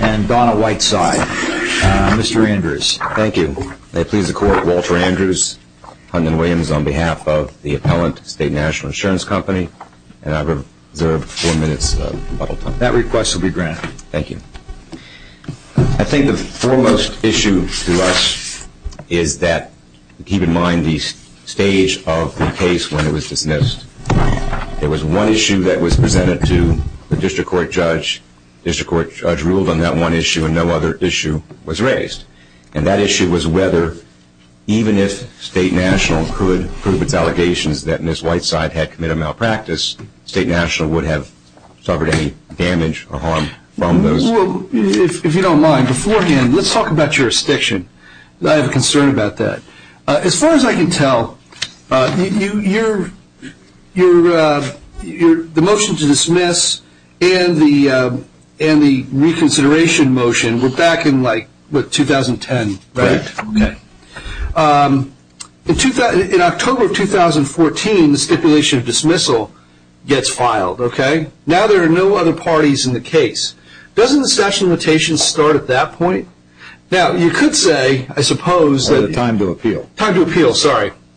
and Donna Whiteside, Mr. Andrews. Thank you. May it please the Court, Walter Andrews, Huntman Williams, on behalf of the appellant, State National Insurance Company, and I've reserved four minutes of bubble time. That request will be granted. Thank you. I think the foremost issue to us is that, keep in mind the stage of the case when it was dismissed, there was one issue that was presented to the district court judge. The district court judge ruled on that one issue and no other issue was raised. And that issue was whether, even if State National could prove its allegations that Ms. Whiteside had If you don't mind, beforehand, let's talk about jurisdiction. I have a concern about that. As far as I can tell, the motion to dismiss and the reconsideration motion were back in 2010, correct? Correct. In October of 2014, the stipulation of dismissal gets started at that point. Now, you could say, I suppose, that the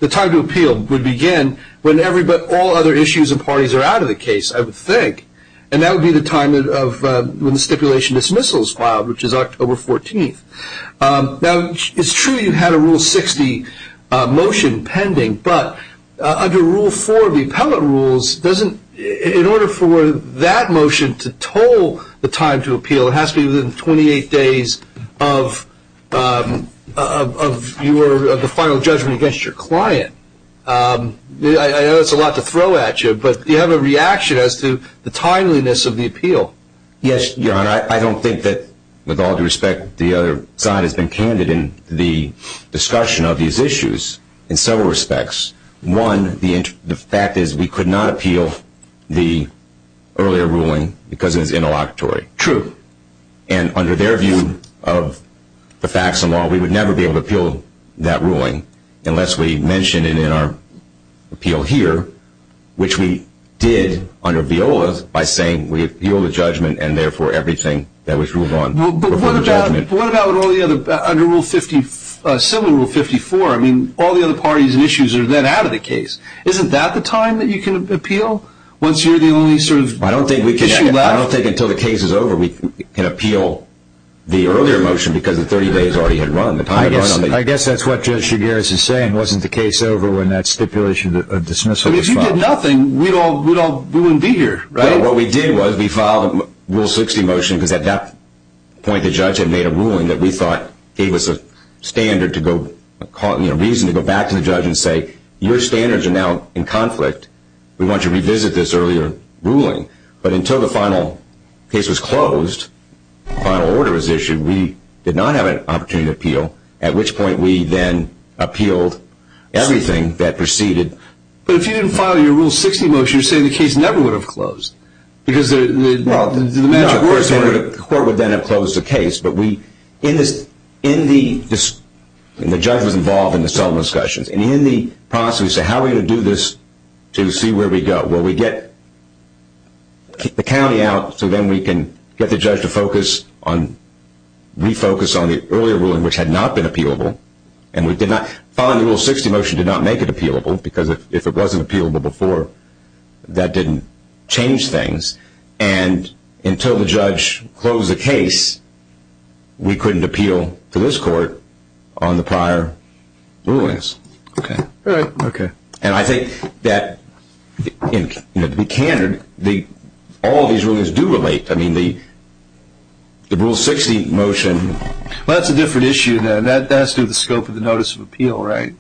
time to appeal would begin when all other issues and parties are out of the case, I would think. And that would be the time when the stipulation of dismissal is filed, which is October 14th. Now, it's true you had a Rule 60 motion pending, but under Rule 4 of the appellate rules, in order for that motion to toll the time to appeal, it has to be within 28 days of the final judgment against your client. I know it's a lot to throw at you, but do you have a reaction as to the timeliness of the appeal? Yes, Your Honor. I don't think that, with all due respect, the other side has been candid in the discussion of these issues in several respects. One, the fact is we could not appeal the earlier ruling because it was interlocutory. True. And under their view of the facts and law, we would never be able to appeal that ruling unless we mention it in our appeal here, which we did under Viola's by saying we appeal the judgment and therefore everything that was ruled on before the judgment. But what about all the other, under Rule 50, similar to Rule 54, I mean, all the other parties and issues are then out of the case. Isn't that the time that you can appeal once you're the only sort of issue left? I don't think until the case is over we can appeal the earlier motion because the 30 days already had run. I guess that's what Judge Shigaris is saying, wasn't the case over when that stipulation of dismissal was filed. If you did nothing, we wouldn't be here. Right. What we did was we filed a Rule 60 motion because at that point the judge had made a ruling that we thought gave us a reason to go back to the case and say, your standards are now in conflict. We want you to revisit this earlier ruling. But until the final case was closed, the final order was issued, we did not have an opportunity to appeal, at which point we then appealed everything that proceeded. But if you didn't file your Rule 60 motion, you're saying the case never would have closed. Because the matter of course, the court would then have closed the case. But we, in the, the judge was involved in the settlement discussions. And in the process, we said, how are we going to do this to see where we go? Well, we get the county out so then we can get the judge to focus on, refocus on the earlier ruling which had not been appealable. And we did not, filing the Rule 60 motion did not make it appealable because if it wasn't appealable before, that didn't change things. And until the judge closed the case, we couldn't appeal to this court on the prior rulings. Okay. All right. Okay. And I think that, to be candid, all these rulings do relate. I mean, the Rule 60 motion Well, that's a different issue then. That has to do with the scope of the notice of appeal, right?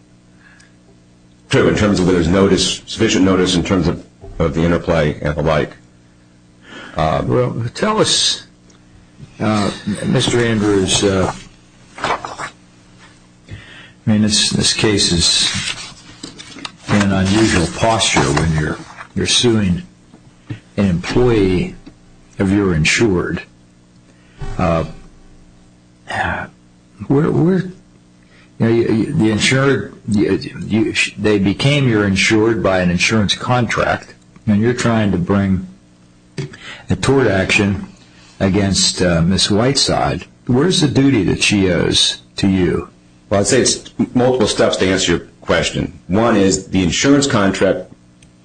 True, in terms of whether there's notice, sufficient notice in terms of the interplay and the like. Well, tell us, Mr. Andrews, I mean, this case is in an unusual posture when you're suing an employee of your insured. The insured, they became your insured by an insurance contract and you're trying to bring a tort action against Ms. Whiteside. What is the duty that she owes to you? Well, I'd say it's multiple steps to answer your question. One is the insurance contract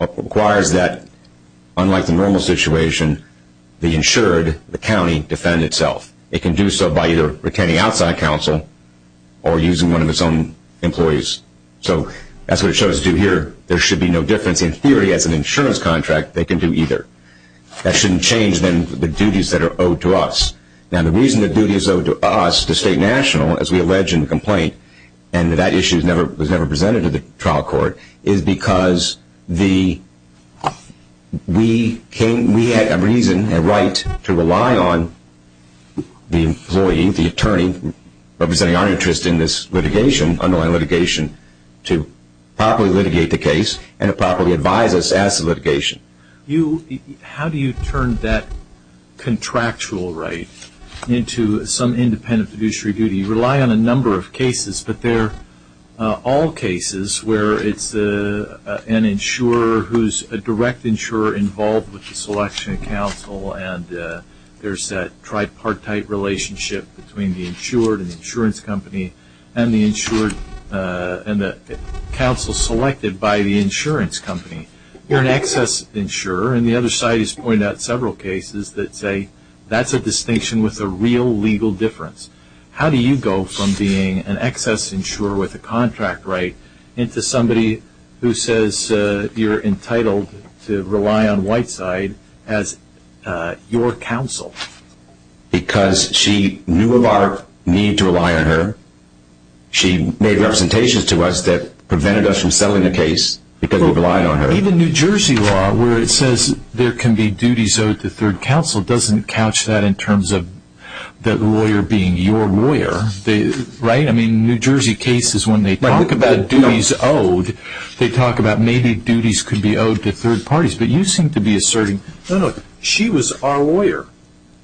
requires that, unlike the normal situation, the insured, the county, defend itself. It can do so by either retaining outside counsel or using one of its own employees. So that's what it shows to do here. There should be no difference. In theory, as an insurance contract, they can do either. That shouldn't change, then, the duties that are owed to us. Now, the reason the duty is owed to us, the state and national, as we allege in the complaint, and that issue was never presented to the trial court, is because we had a reason, a right, to rely on the employee, the attorney, representing our interest in this litigation, underlying litigation, to properly litigate the case and to properly advise us as to litigation. How do you turn that contractual right into some independent fiduciary duty? You rely on a number of cases, but they're all cases where it's an insurer who's a direct insurer involved with the selection of counsel and there's that tripartite relationship between the insured and the insurance company and the counsel selected by the insurance company. You're an excess insurer and the other side has pointed out several cases that say that's a distinction with a real legal difference. How do you go from being an excess insurer with a contract right into somebody who says you're entitled to rely on Whiteside as your counsel? Because she knew of our need to rely on her. She made representations to us that prevented us from settling the case because we relied on her. Even New Jersey law, where it says there can be duties owed to third counsel, doesn't couch that in terms of the lawyer being your lawyer. Right? I mean, New Jersey cases, when they talk about duties owed, they talk about maybe duties could be owed to third parties, but you seem to be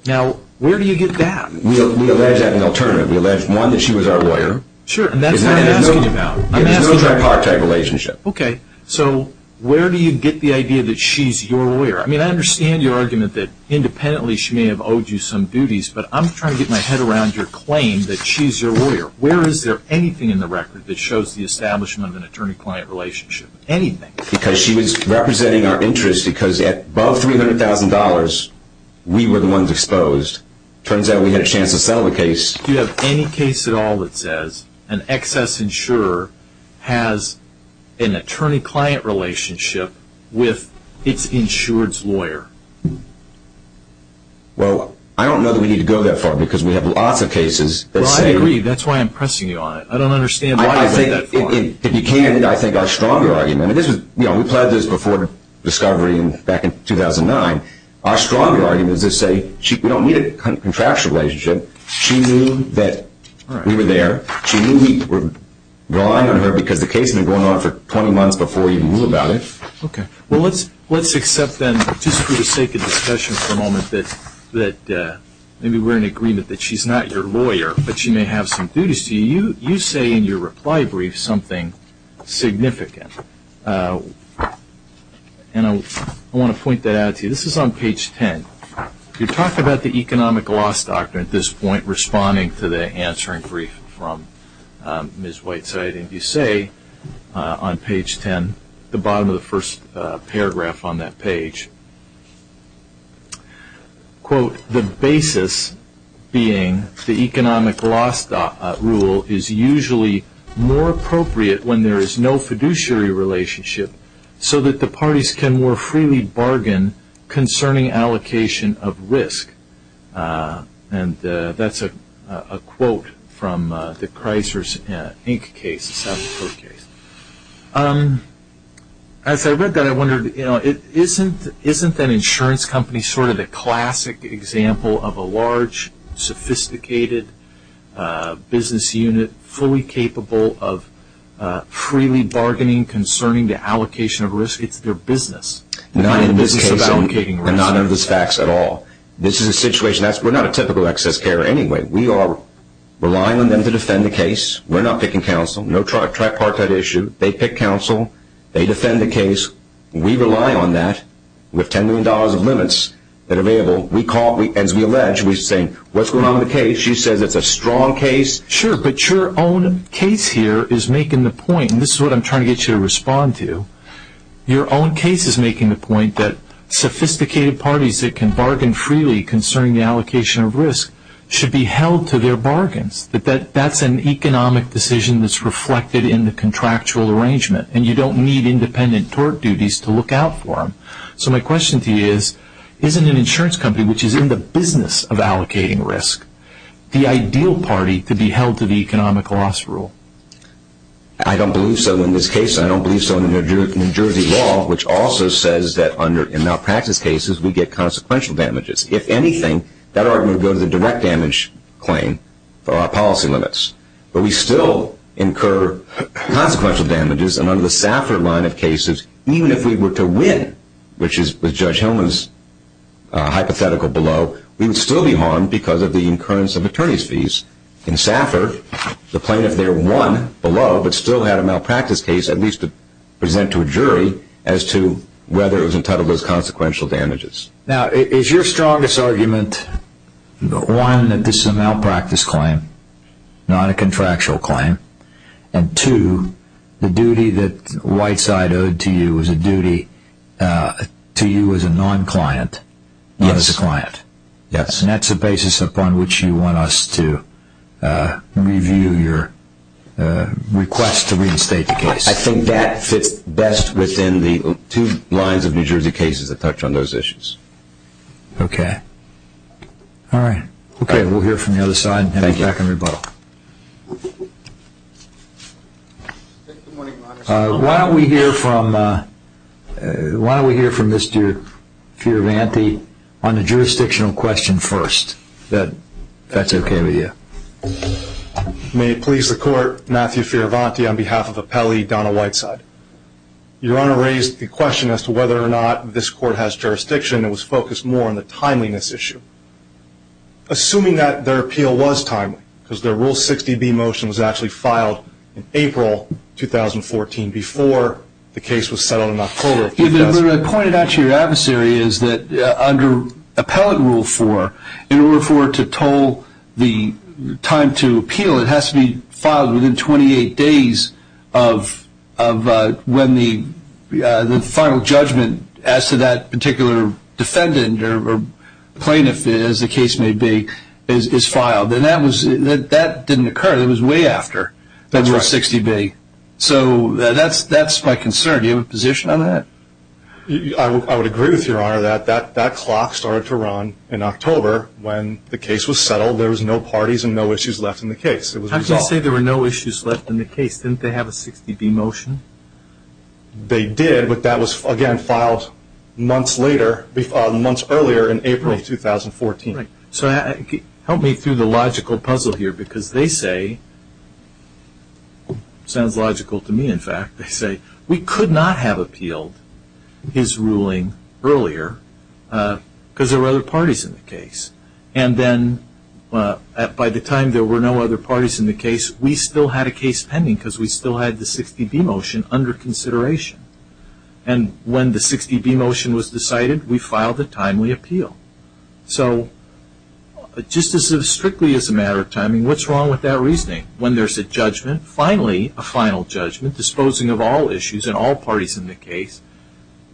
Now, where do you get that? We allege that in alternative. We allege, one, that she was our lawyer. Sure, and that's what I'm asking about. There's no tripartite relationship. Okay, so where do you get the idea that she's your lawyer? I mean, I understand your argument that independently she may have owed you some duties, but I'm trying to get my head around your claim that she's your lawyer. Where is there anything in the record that shows the establishment of an attorney-client relationship? Anything? Because she was representing our interests because at above $300,000, we were the ones exposed. Turns out we had a chance to settle the case. Do you have any case at all that says an excess insurer has an attorney-client relationship with its insured's lawyer? Well, I don't know that we need to go that far because we have lots of cases that say Well, I agree. That's why I'm pressing you on it. I don't understand why you say that If you can, I think our stronger argument, and this was, you know, we plied this before discovery back in 2009. Our stronger argument is to say, we don't need a contractual relationship. She knew that we were there. She knew we were relying on her because the case had been going on for 20 months before we even knew about it. Okay, well let's accept then, just for the sake of discussion for the moment, that maybe we're in agreement that she's not your lawyer, but she may have some duties to you. You say in your reply brief something significant, and I want to point that out to you. This is on page 10. You talk about the economic loss doctrine at this point, responding to the answering brief from Ms. Whiteside, and you say on page 10, the bottom of the first is usually more appropriate when there is no fiduciary relationship, so that the parties can more freely bargain concerning allocation of risk. And that's a quote from the Chrysler's Inc. case, the South Dakota case. As I read that, I wondered, you know, isn't that insurance company sort of the classic example of a large, sophisticated business unit fully capable of freely bargaining concerning the allocation of risk? It's their business. Not in this case, and none of those facts at all. This is a situation, we're not a typical excess carrier anyway. We are relying on them to defend the case. We're not picking counsel. No tripartite issue. They pick counsel. They defend the case. We rely on that with $10 a month. As we allege, we say, what's going on with the case? She says it's a strong case. Sure, but your own case here is making the point, and this is what I'm trying to get you to respond to, your own case is making the point that sophisticated parties that can bargain freely concerning the allocation of risk should be held to their bargains. That's an economic decision that's reflected in the contractual arrangement, and you don't need independent tort duties to look out for them. So my question to you is, isn't an insurance company, which is in the business of allocating risk, the ideal party to be held to the economic loss rule? I don't believe so in this case, and I don't believe so in the New Jersey law, which also says that in malpractice cases, we get consequential damages. If anything, that argument would go to the direct damage claim for our policy limits. But we still incur consequential damages, and under the SAFR line of cases, even if we were to win, which is with Judge Hillman's hypothetical below, we would still be harmed because of the incurrence of attorney's fees. In SAFR, the plaintiff there won below, but still had a malpractice case at least to present to a jury as to whether it was entitled as consequential damages. Now, is your strongest argument, one, that this is a malpractice claim, not a contractual claim, and two, the duty that Whiteside owed to you is a duty to you as a non-client, not as a client? Yes. And that's the basis upon which you want us to review your request to reinstate the case? I think that fits best within the two lines of New Jersey cases that touch on those issues. Okay. All right. Okay, we'll hear from the other side and get back in rebuttal. Why don't we hear from Mr. Fiorvanti on the jurisdictional question first. That's okay with you. May it please the Court, Matthew Fiorvanti on behalf of Appelli, Donna Whiteside. Your Honor raised the question as to whether or not this Court has jurisdiction and was focused more on the timeliness issue. Assuming that their appeal was timely, because their Rule 60B motion was actually filed in April 2014 before the case was settled in October of 2000. The point about your adversary is that under Appellate Rule 4, in order for it to toll the time to the final judgment as to that particular defendant or plaintiff, as the case may be, is filed. And that didn't occur. That was way after Rule 60B. So that's my concern. Do you have a position on that? I would agree with your Honor that that clock started to run in October when the case was settled. There was no parties and no issues left in the case. It was resolved. How can you say there were no issues left in the case? Didn't they have a 60B motion? They did, but that was again filed months earlier in April of 2014. Right. So help me through the logical puzzle here, because they say, sounds logical to me in fact, they say we could not have appealed his ruling earlier because there were other parties in the case. And then by the time there were no other parties in the case, we still had a case pending because we had a 60B motion under consideration. And when the 60B motion was decided, we filed a timely appeal. So just as strictly as a matter of timing, what's wrong with that reasoning? When there's a judgment, finally a final judgment, disposing of all issues and all parties in the case,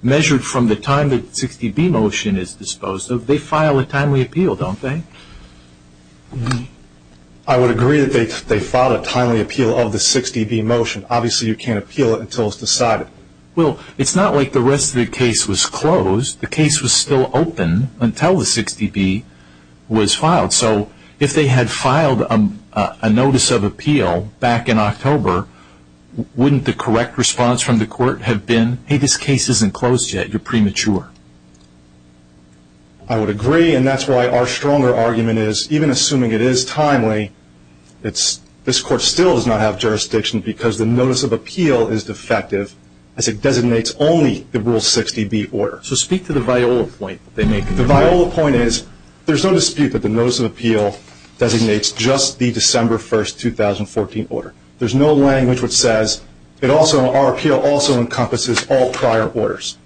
measured from the time the 60B motion is disposed of, they file a timely appeal, don't they? I would agree that they filed a timely appeal of the 60B motion. Obviously you can't appeal it until it's decided. Well, it's not like the rest of the case was closed. The case was still open until the 60B was filed. So if they had filed a notice of appeal back in October, wouldn't the correct response from the court have been, hey, this case isn't closed yet, you're premature? I would agree, and that's why our stronger argument is, even assuming it is timely, this court still does not have jurisdiction because the notice of appeal is defective, as it designates only the Rule 60B order. So speak to the Viola point that they make. The Viola point is, there's no dispute that the notice of appeal designates just the December 1, 2014 order. There's no language which says, our appeal also encompasses all prior orders.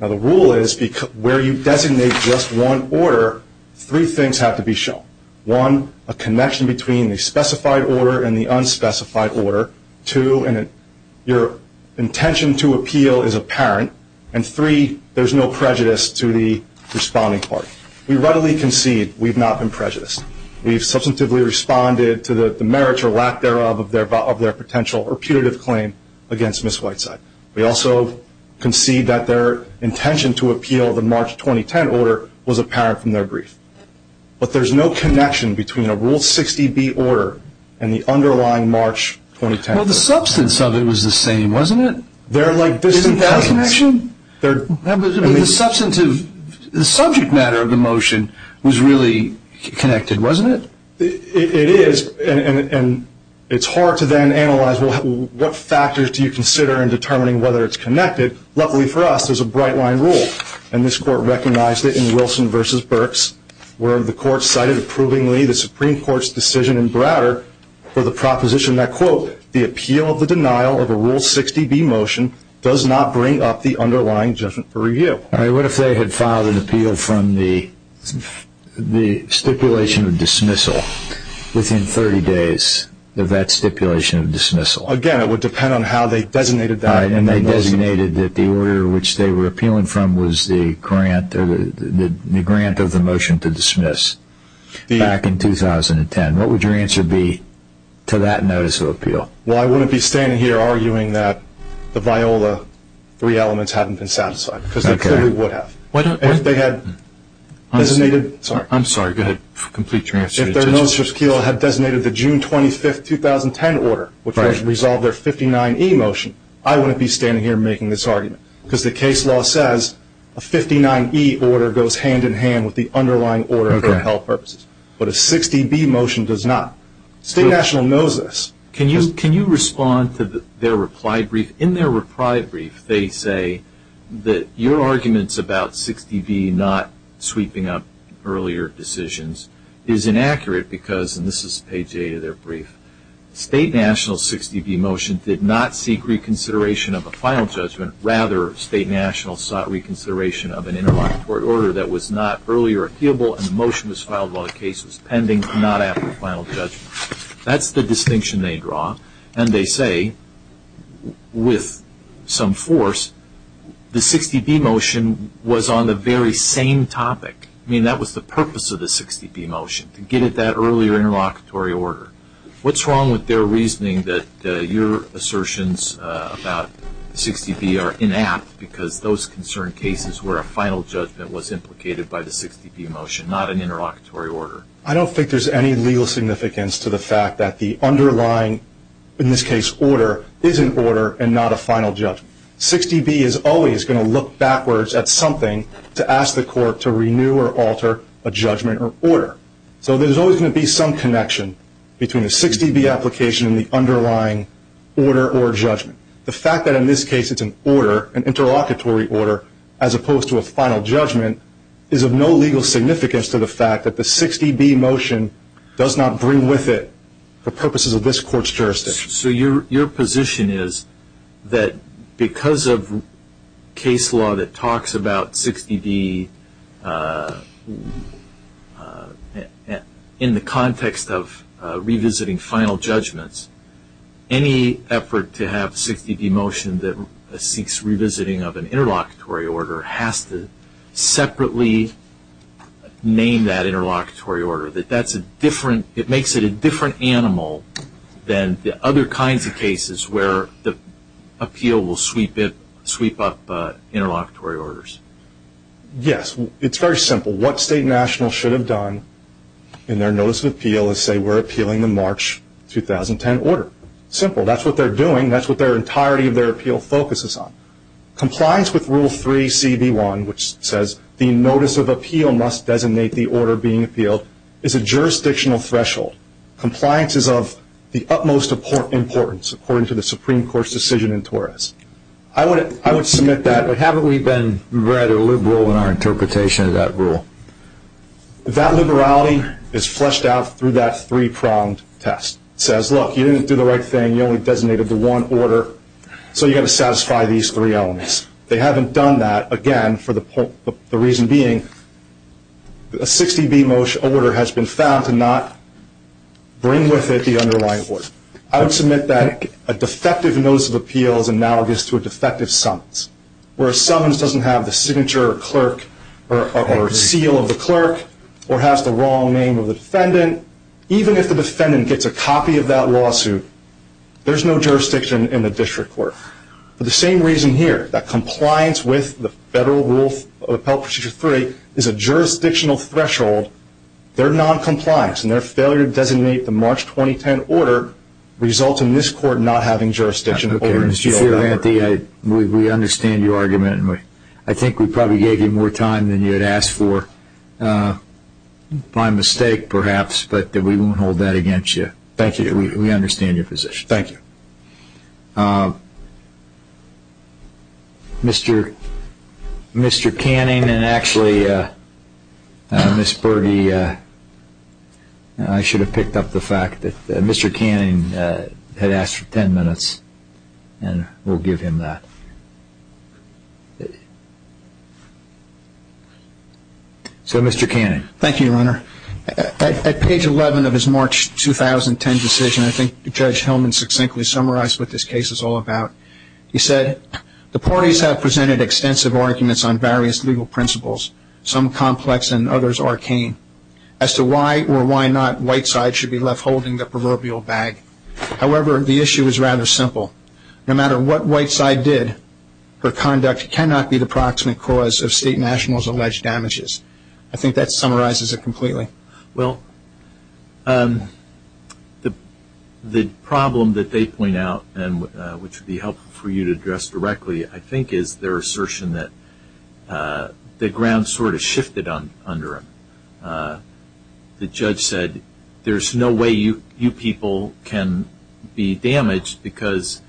Now the rule is, where you designate just one order, three things have to be shown. One, a connection between the specified order and the unspecified order. Two, your intention to appeal is apparent. And three, there's no prejudice to the responding party. We readily concede we've not been prejudiced. We've substantively responded to the merits or lack thereof of their potential or putative claim against Ms. Whiteside. We also concede that their intention to appeal the March 2010 order was apparent from their brief. But there's no connection between a Rule 60B order and the underlying March 2010 order. Well, the substance of it was the same, wasn't it? They're like distant cousins. Isn't that a connection? The subject matter of the motion was really connected, wasn't it? It is. And it's hard to then analyze, well, what factors do you consider in determining whether it's connected? Luckily for us, there's a bright-line rule. And this Court recognized it in Wilson v. Burks, where the Court cited approvingly the Supreme Court's decision in Browder for the proposition that, quote, the appeal of the denial of a Rule 60B motion does not bring up the underlying judgment for review. All right. What if they had filed an appeal from the stipulation of dismissal within 30 days of that stipulation of dismissal? Again, it would depend on how they designated that. All right. And they designated that the order which they were appealing from was the grant of the motion to dismiss back in 2010. What would your answer be to that notice of appeal? Well, I wouldn't be standing here arguing that the VIOLA three elements hadn't been satisfied, because they clearly would have. If they had designated – I'm sorry. Go ahead. Complete your answer. If their notice of appeal had designated the June 25, 2010 order, which would have resolved their 59E motion, I wouldn't be standing here making this argument, because the case law says a 59E order goes hand-in-hand with the underlying order for health purposes. But a 60B motion does not. State National knows this. Can you respond to their reply brief? In their reply brief, they say that your arguments about 60B not sweeping up earlier decisions is inaccurate because – and this is page 8 of their brief – State National's 60B motion did not seek reconsideration of a final judgment. Rather, State National sought reconsideration of an interlocutory order that was not earlier appealable, and the motion was filed while the case was pending and not apt for final judgment. That's the distinction they draw. And they say, with some force, the 60B motion was on the very same topic. I mean, that was the purpose of the 60B motion, to get at that earlier interlocutory order. What's wrong with their reasoning that your assertions about 60B are inapt, because those concern cases where a final judgment was implicated by the 60B motion, not an interlocutory order? I don't think there's any legal significance to the fact that the underlying, in this case, order is an order and not a final judgment. 60B is always going to look backwards at something to ask the court to renew or alter a judgment or order. So there's always going to be some connection between the 60B application and the underlying order or judgment. The fact that, in this case, it's an order, an interlocutory order, as opposed to a final judgment, is of no legal significance to the fact that the 60B motion does not bring with it the purposes of this Court's jurisdiction. So your position is that because of case law that talks about 60B in the context of revisiting final judgments, any effort to have 60B motion that seeks revisiting of an interlocutory order has to separately name that interlocutory order, that it makes it a different animal than the other kinds of cases where the appeal will sweep up interlocutory orders? Yes, it's very simple. What State and National should have done in their notice of appeal is say, we're appealing the March 2010 order. Simple. That's what they're doing. That's what their entirety of their appeal focuses on. Compliance with Rule 3, CB1, which says the notice of appeal must designate the order being appealed, is a jurisdictional threshold. Compliance is of the utmost importance according to the Supreme Court's decision in Torres. I would submit that, but haven't we been rather liberal in our interpretation of that rule? That liberality is fleshed out through that three-pronged test. It says, look, you didn't do the right thing. You only designated the one order, so you've got to satisfy these three elements. They haven't done that, again, for the reason being a 60B order has been found to not bring with it the underlying order. I would submit that a defective notice of appeal is analogous to a defective summons, where a summons doesn't have the signature or seal of the clerk or has the wrong name of the defendant. Even if the defendant gets a copy of that lawsuit, there's no jurisdiction in the district court. For the same reason here, that compliance with the Federal Rule of Appeal Procedure 3 is a jurisdictional threshold, their noncompliance and their failure to designate the March 2010 order results in this Court not having jurisdiction. We understand your argument. I think we probably gave you more time than you had asked for by mistake, perhaps, but we won't hold that against you. Thank you. We understand your position. Thank you. Mr. Canning and actually Ms. Berge, I should have picked up the fact that Mr. Canning had asked for 10 minutes, and we'll give him that. So, Mr. Canning. At page 11 of his March 2010 decision, I think Judge Hillman succinctly summarized what this case is all about. He said, the parties have presented extensive arguments on various legal principles, some complex and others arcane, as to why or why not Whiteside should be left holding the proverbial bag. However, the issue is rather simple. No matter what Whiteside did, her conduct cannot be the proximate cause of state nationals' alleged damages. I think that summarizes it completely. Well, the problem that they point out, which would be helpful for you to address directly, I think is their assertion that the ground sort of shifted under them. The judge said, there's no way you people can be damaged because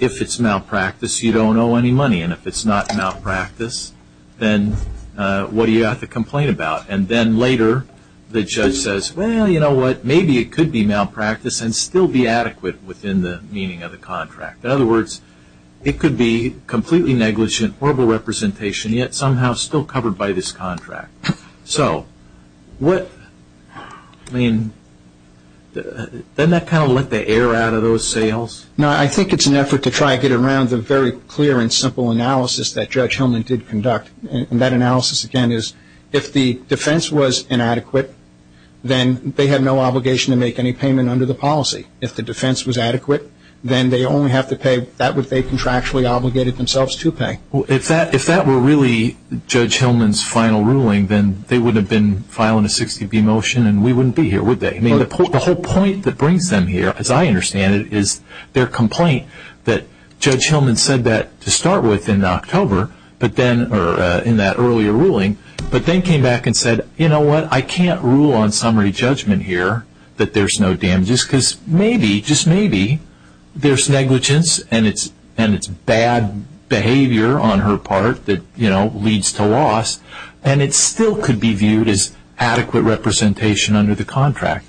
if it's malpractice, you don't owe any money. And if it's not malpractice, then what do you have to complain about? And then later, the judge says, well, you know what, maybe it could be malpractice and still be adequate within the meaning of the contract. In other words, it could be completely negligent, horrible representation, yet somehow still covered by this contract. So, what, I mean, doesn't that kind of let the air out of those sales? No, I think it's an effort to try to get around the very clear and simple analysis that Judge Hillman did conduct. And that analysis, again, is if the defense was inadequate, then they have no obligation to make any payment under the policy. If the defense was adequate, then they only have to pay that which they contractually obligated themselves to pay. Well, if that were really Judge Hillman's final ruling, then they wouldn't have been filing a 60B motion and we wouldn't be here, would they? I mean, the whole point that brings them here, as I understand it, is their complaint that Judge Hillman said that to start with in October, or in that earlier ruling, but then came back and said, you know what, I can't rule on summary judgment here that there's no damages because maybe, just maybe, there's negligence and it's bad behavior on her part that leads to loss and it still could be viewed as adequate representation under the contract.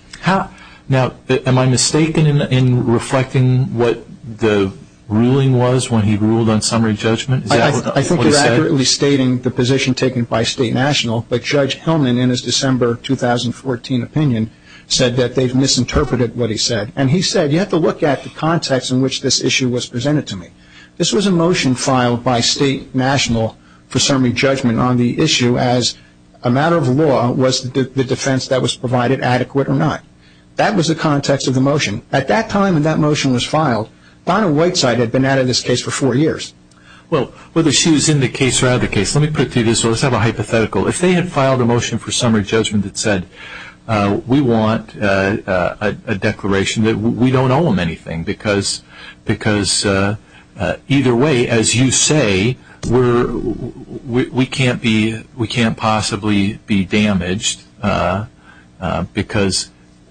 Now, am I mistaken in reflecting what the ruling was when he ruled on summary judgment? Is that what he said? I think you're accurately stating the position taken by State and National, but Judge Hillman, in his December 2014 opinion, said that they've misinterpreted what he said. And he said, you have to look at the context in which this issue was presented to me. This was a motion filed by State and National for summary judgment on the issue as a matter of law was the defense that was provided adequate or not. That was the context of the motion. At that time when that motion was filed, Donna Whiteside had been out of this case for four years. Well, whether she was in the case or out of the case, let me put it to you this way. Let's have a hypothetical. If they had filed a motion for summary judgment that said, we want a declaration that we don't owe them anything because either way, as you say, we can't possibly be damaged because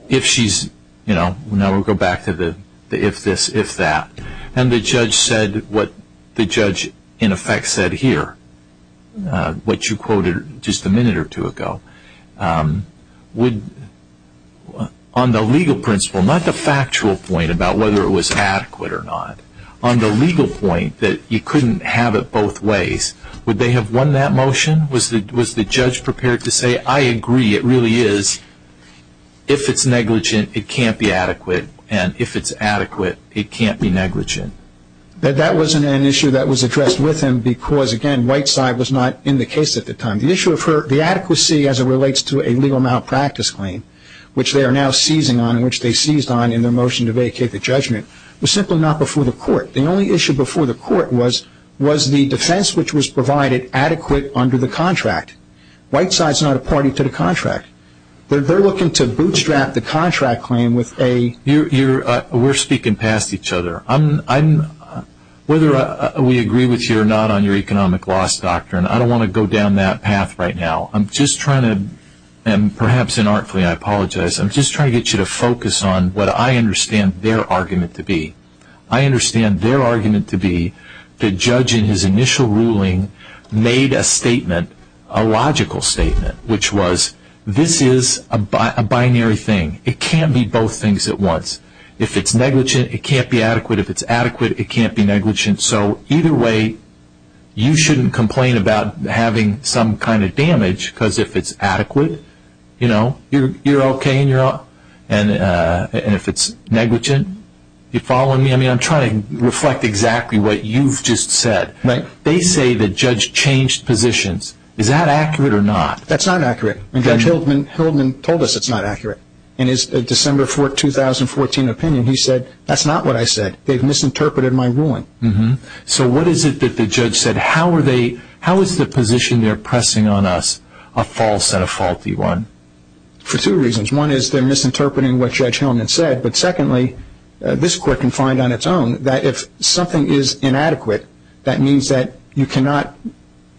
if she's, now we'll go back to the if this, if that. And the judge said what the judge in effect said here, what you quoted just a minute or two ago, on the legal principle, not the factual point about whether it was adequate or not, on the legal point that you couldn't have it both ways, would they have won that motion? Was the judge prepared to say, I agree, it really is. If it's negligent, it can't be adequate. And if it's adequate, it can't be negligent. That wasn't an issue that was addressed with him because, again, Whiteside was not in the case at the time. The adequacy as it relates to a legal malpractice claim, which they are now seizing on and which they seized on in their motion to vacate the judgment, was simply not before the court. The only issue before the court was the defense which was provided adequate under the contract. Whiteside's not a party to the contract. They're looking to bootstrap the contract claim with a We're speaking past each other. Whether we agree with you or not on your economic loss doctrine, I don't want to go down that path right now. I'm just trying to, and perhaps inartfully I apologize, I'm just trying to get you to focus on what I understand their argument to be. I understand their argument to be the judge in his initial ruling made a statement, a logical statement, which was this is a binary thing. It can't be both things at once. If it's negligent, it can't be adequate. If it's adequate, it can't be negligent. So either way, you shouldn't complain about having some kind of damage, because if it's adequate, you're okay, and if it's negligent, you're following me? I'm trying to reflect exactly what you've just said. They say the judge changed positions. Is that accurate or not? That's not accurate. Judge Hildman told us it's not accurate. In his December 2014 opinion, he said, that's not what I said. They've misinterpreted my ruling. So what is it that the judge said? How is the position they're pressing on us a false and a faulty one? For two reasons. One is they're misinterpreting what Judge Hildman said, but secondly, this court can find on its own that if something is inadequate, that means that you cannot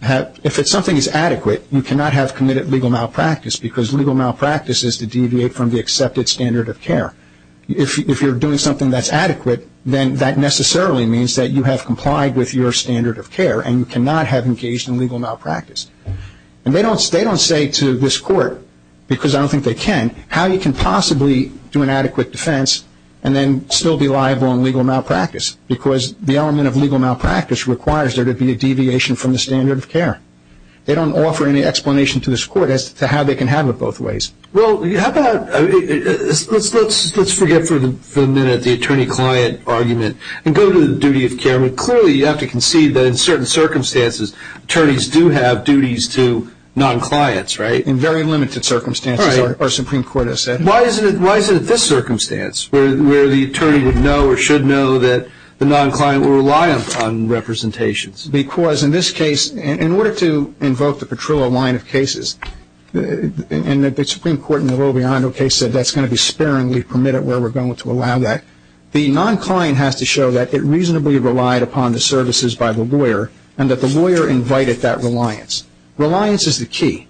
have, if something is adequate, you cannot have committed legal malpractice, because legal malpractice is to deviate from the accepted standard of care. If you're doing something that's adequate, then that necessarily means that you have complied with your standard of care and you cannot have engaged in legal malpractice. And they don't say to this court, because I don't think they can, how you can possibly do an adequate defense and then still be liable in legal malpractice, because the element of legal malpractice requires there to be a deviation from the standard of care. They don't offer any explanation to this court as to how they can have it both ways. Well, how about, let's forget for a minute the attorney-client argument and go to the duty of care. Clearly, you have to concede that in certain circumstances, attorneys do have duties to non-clients, right? In very limited circumstances, our Supreme Court has said. Why is it at this circumstance, where the attorney would know or should know that the non-client will rely on representations? Because in this case, in order to invoke the Petrillo line of cases, and the Supreme Court in the Robiondo case said that's going to be sparingly permitted where we're going to allow that. The non-client has to show that it reasonably relied upon the services by the lawyer and that the lawyer invited that reliance. Reliance is the key.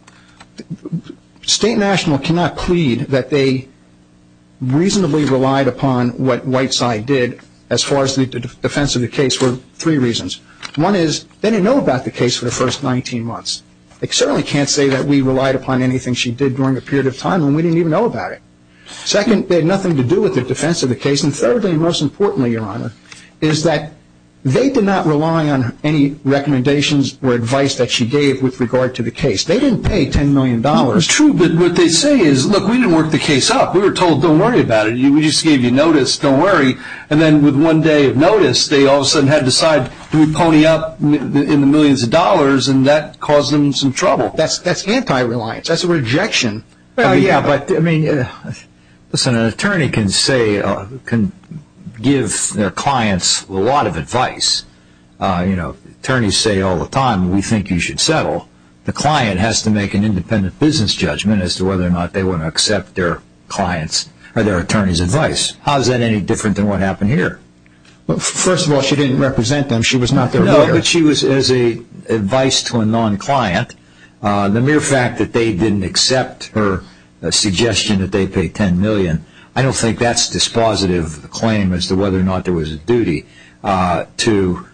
State and national cannot plead that they reasonably relied upon what Whiteside did as far as the defense of the case for three reasons. One is they didn't know about the case for the first 19 months. They certainly can't say that we relied upon anything she did during a period of time when we didn't even know about it. Second, it had nothing to do with the defense of the case. And thirdly, and most importantly, Your Honor, is that they did not rely on any recommendations or advice that she gave with regard to the case. They didn't pay $10 million. True, but what they say is, look, we didn't work the case up. We were told don't worry about it. We just gave you notice, don't worry. And then with one day of notice, they all of a sudden had to decide, do we pony up in the millions of dollars, and that caused them some trouble. That's anti-reliance. That's a rejection. Yeah, but, I mean, listen, an attorney can give their clients a lot of advice. You know, attorneys say all the time, we think you should settle. The client has to make an independent business judgment as to whether or not they want to accept their client's or their attorney's advice. How is that any different than what happened here? Well, first of all, she didn't represent them. She was not their lawyer. No, but she was as advice to a non-client. The mere fact that they didn't accept her suggestion that they pay $10 million, I don't think that's dispositive of the claim as to whether or not there was a duty to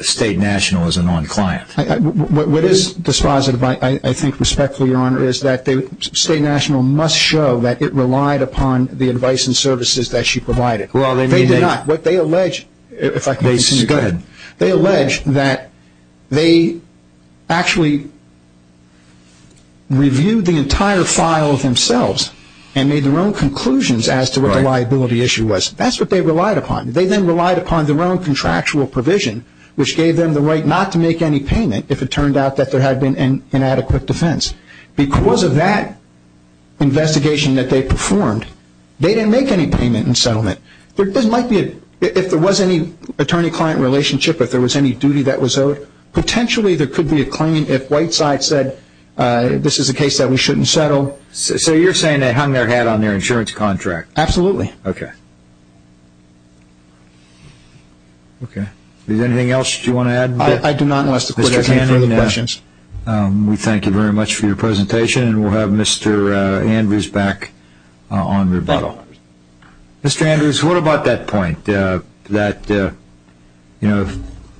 State National as a non-client. What is dispositive, I think, respectfully, Your Honor, is that State National must show that it relied upon the advice and services that she provided. They did not. They allege that they actually reviewed the entire file themselves and made their own conclusions as to what the liability issue was. That's what they relied upon. They then relied upon their own contractual provision, which gave them the right not to make any payment if it turned out that there had been inadequate defense. Because of that investigation that they performed, they didn't make any payment in settlement. If there was any attorney-client relationship, if there was any duty that was owed, potentially there could be a claim if Whiteside said this is a case that we shouldn't settle. So you're saying they hung their hat on their insurance contract? Absolutely. Okay. Okay. Is there anything else you want to add? I do not, unless the Court has any further questions. We thank you very much for your presentation, and we'll have Mr. Andrews back on rebuttal. Mr. Andrews, what about that point that, you know,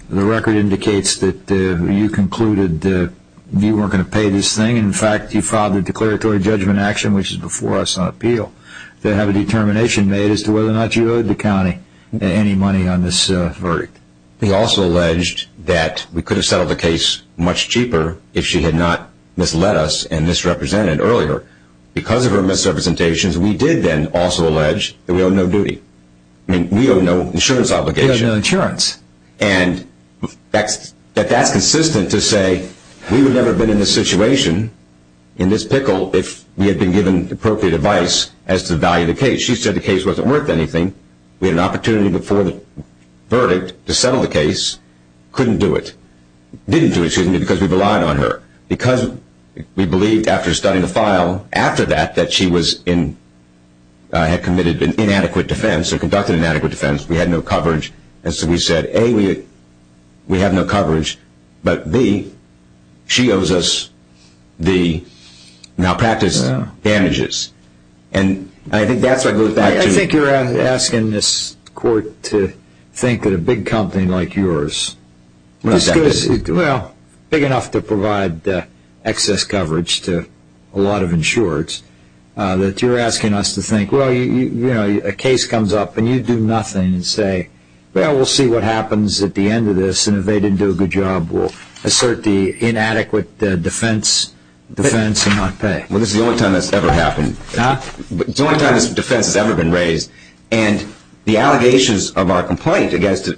the record indicates that you concluded that you weren't going to pay this thing, and, in fact, you filed a declaratory judgment action, which is before us on appeal, to have a determination made as to whether or not you owed the county any money on this verdict. We also alleged that we could have settled the case much cheaper if she had not misled us and misrepresented earlier. Because of her misrepresentations, we did then also allege that we owe no duty. I mean, we owe no insurance obligation. We owe no insurance. And that's consistent to say we would never have been in this situation, in this pickle, if we had been given appropriate advice as to the value of the case. She said the case wasn't worth anything. We had an opportunity before the verdict to settle the case. Couldn't do it. Didn't do it, excuse me, because we relied on her. Because we believed, after studying the file, after that, that she had committed an inadequate defense or conducted an inadequate defense. We had no coverage. And so we said, A, we have no coverage. But, B, she owes us the malpractice damages. And I think that's what goes back to... I think you're asking this court to think that a big company like yours, big enough to provide excess coverage to a lot of insurers, that you're asking us to think, well, a case comes up and you do nothing and say, well, we'll see what happens at the end of this. And if they didn't do a good job, we'll assert the inadequate defense and not pay. Well, this is the only time that's ever happened. Huh? It's the only time this defense has ever been raised. And the allegations of our complaint against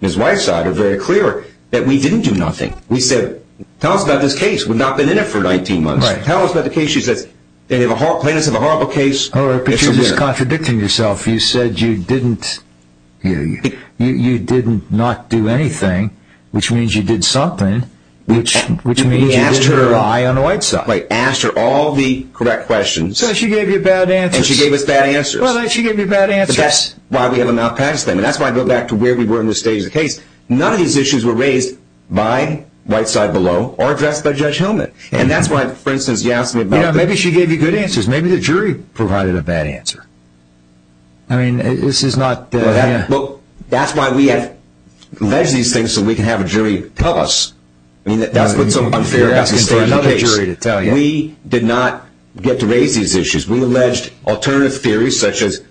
his wife's side are very clear, that we didn't do nothing. We said, tell us about this case. We've not been in it for 19 months. Right. Tell us about the case. She says, they have a horrible case. All right, but you're just contradicting yourself. You said you didn't not do anything, which means you did something, which means you did rely on the white side. I asked her all the correct questions. So she gave you bad answers. And she gave us bad answers. Well, she gave you bad answers. But that's why we have a malpractice thing. And that's why I go back to where we were in this stage of the case. None of these issues were raised by white side below or addressed by Judge Helmut. And that's why, for instance, you asked me about... I provided a bad answer. I mean, this is not... Well, that's why we have alleged these things so we can have a jury tell us. I mean, that's what's so unfair about this case. You're asking for another jury to tell you. We did not get to raise these issues. We alleged alternative theories such as,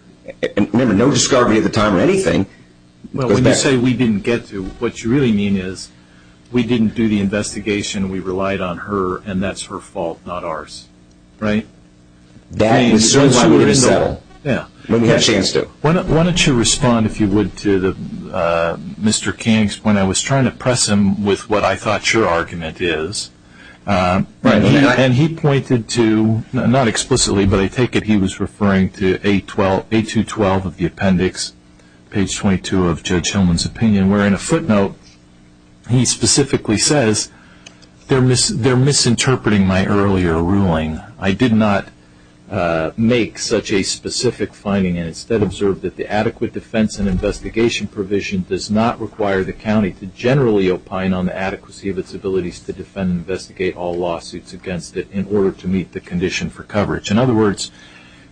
remember, no discovery at the time or anything. Well, when you say we didn't get to, what you really mean is, we didn't do the investigation, we relied on her, and that's her fault, not ours. Right? That is why we're going to settle if we have a chance to. Why don't you respond, if you would, to Mr. King's point? I was trying to press him with what I thought your argument is. And he pointed to, not explicitly, but I take it he was referring to A212 of the appendix, page 22 of Judge Helmut's opinion, where in a footnote he specifically says, they're misinterpreting my earlier ruling. I did not make such a specific finding and instead observed that the adequate defense and investigation provision does not require the county to generally opine on the adequacy of its abilities to defend and investigate all lawsuits against it in order to meet the condition for coverage. In other words,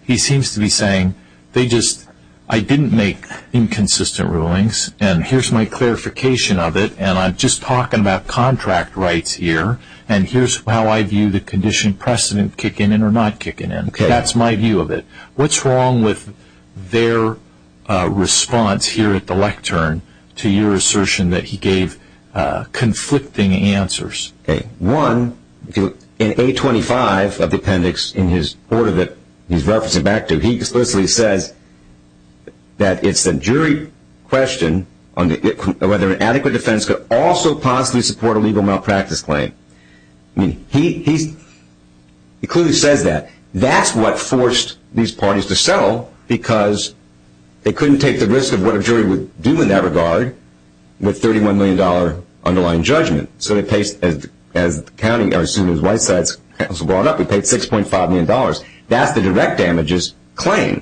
he seems to be saying, I didn't make inconsistent rulings, and here's my clarification of it, and I'm just talking about contract rights here, and here's how I view the condition precedent kicking in or not kicking in. That's my view of it. What's wrong with their response here at the lectern to your assertion that he gave conflicting answers? One, in A25 of the appendix, in his order that he's referencing back to, he explicitly says that it's a jury question on whether an adequate defense could also possibly support a legal malpractice claim. He clearly says that. That's what forced these parties to settle, because they couldn't take the risk of what a jury would do in that regard with $31 million underlying judgment. As soon as White said it was brought up, he paid $6.5 million. That's the direct damages claim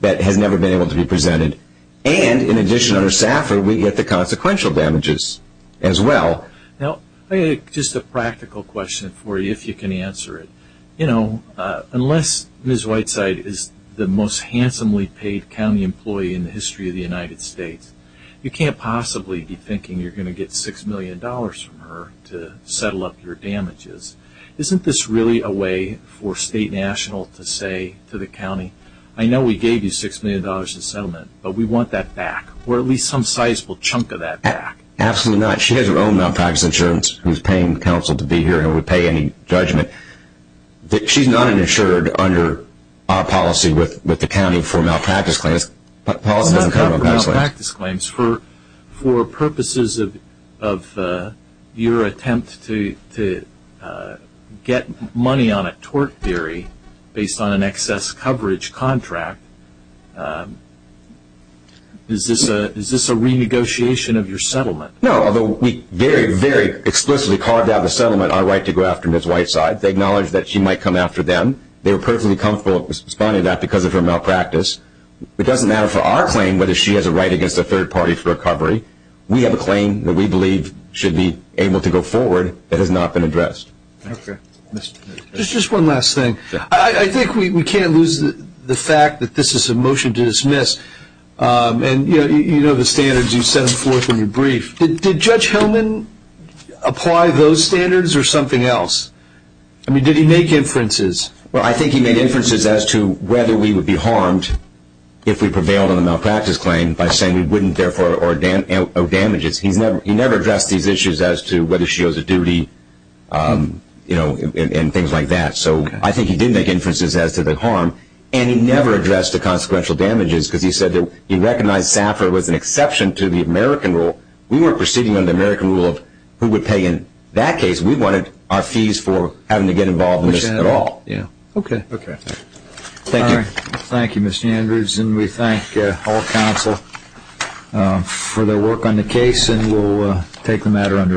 that has never been able to be presented, and in addition, under SAFR, we get the consequential damages as well. Just a practical question for you, if you can answer it. Unless Ms. Whiteside is the most handsomely paid county employee in the history of the United States, you can't possibly be thinking you're going to get $6 million from her to settle up your damages. Isn't this really a way for state and national to say to the county, I know we gave you $6 million in settlement, but we want that back, or at least some sizable chunk of that back? Absolutely not. She has her own malpractice insurance, who's paying counsel to be here, and would pay any judgment. She's not insured under our policy with the county for malpractice claims. For purposes of your attempt to get money on a tort theory based on an excess coverage contract, is this a renegotiation of your settlement? No, although we very, very explicitly carved out of the settlement our right to go after Ms. Whiteside. They acknowledged that she might come after them. They were perfectly comfortable responding to that because of her malpractice. It doesn't matter for our claim whether she has a right against a third party for recovery. We have a claim that we believe should be able to go forward that has not been addressed. Okay. Just one last thing. I think we can't lose the fact that this is a motion to dismiss, and you know the standards you set forth in your brief. Did Judge Hellman apply those standards or something else? I mean, did he make inferences? Well, I think he made inferences as to whether we would be harmed if we prevailed on a malpractice claim by saying we wouldn't therefore owe damages. He never addressed these issues as to whether she owes a duty and things like that. So I think he did make inferences as to the harm, and he never addressed the consequential damages because he said that he recognized SAFR was an exception to the American rule. We weren't proceeding under the American rule of who would pay in that case. We wanted our fees for having to get involved in this at all. Yeah. Okay. Okay. Thank you. All right. Thank you, Mr. Andrews, and we thank all counsel for their work on the case, and we'll take the matter under adjournment.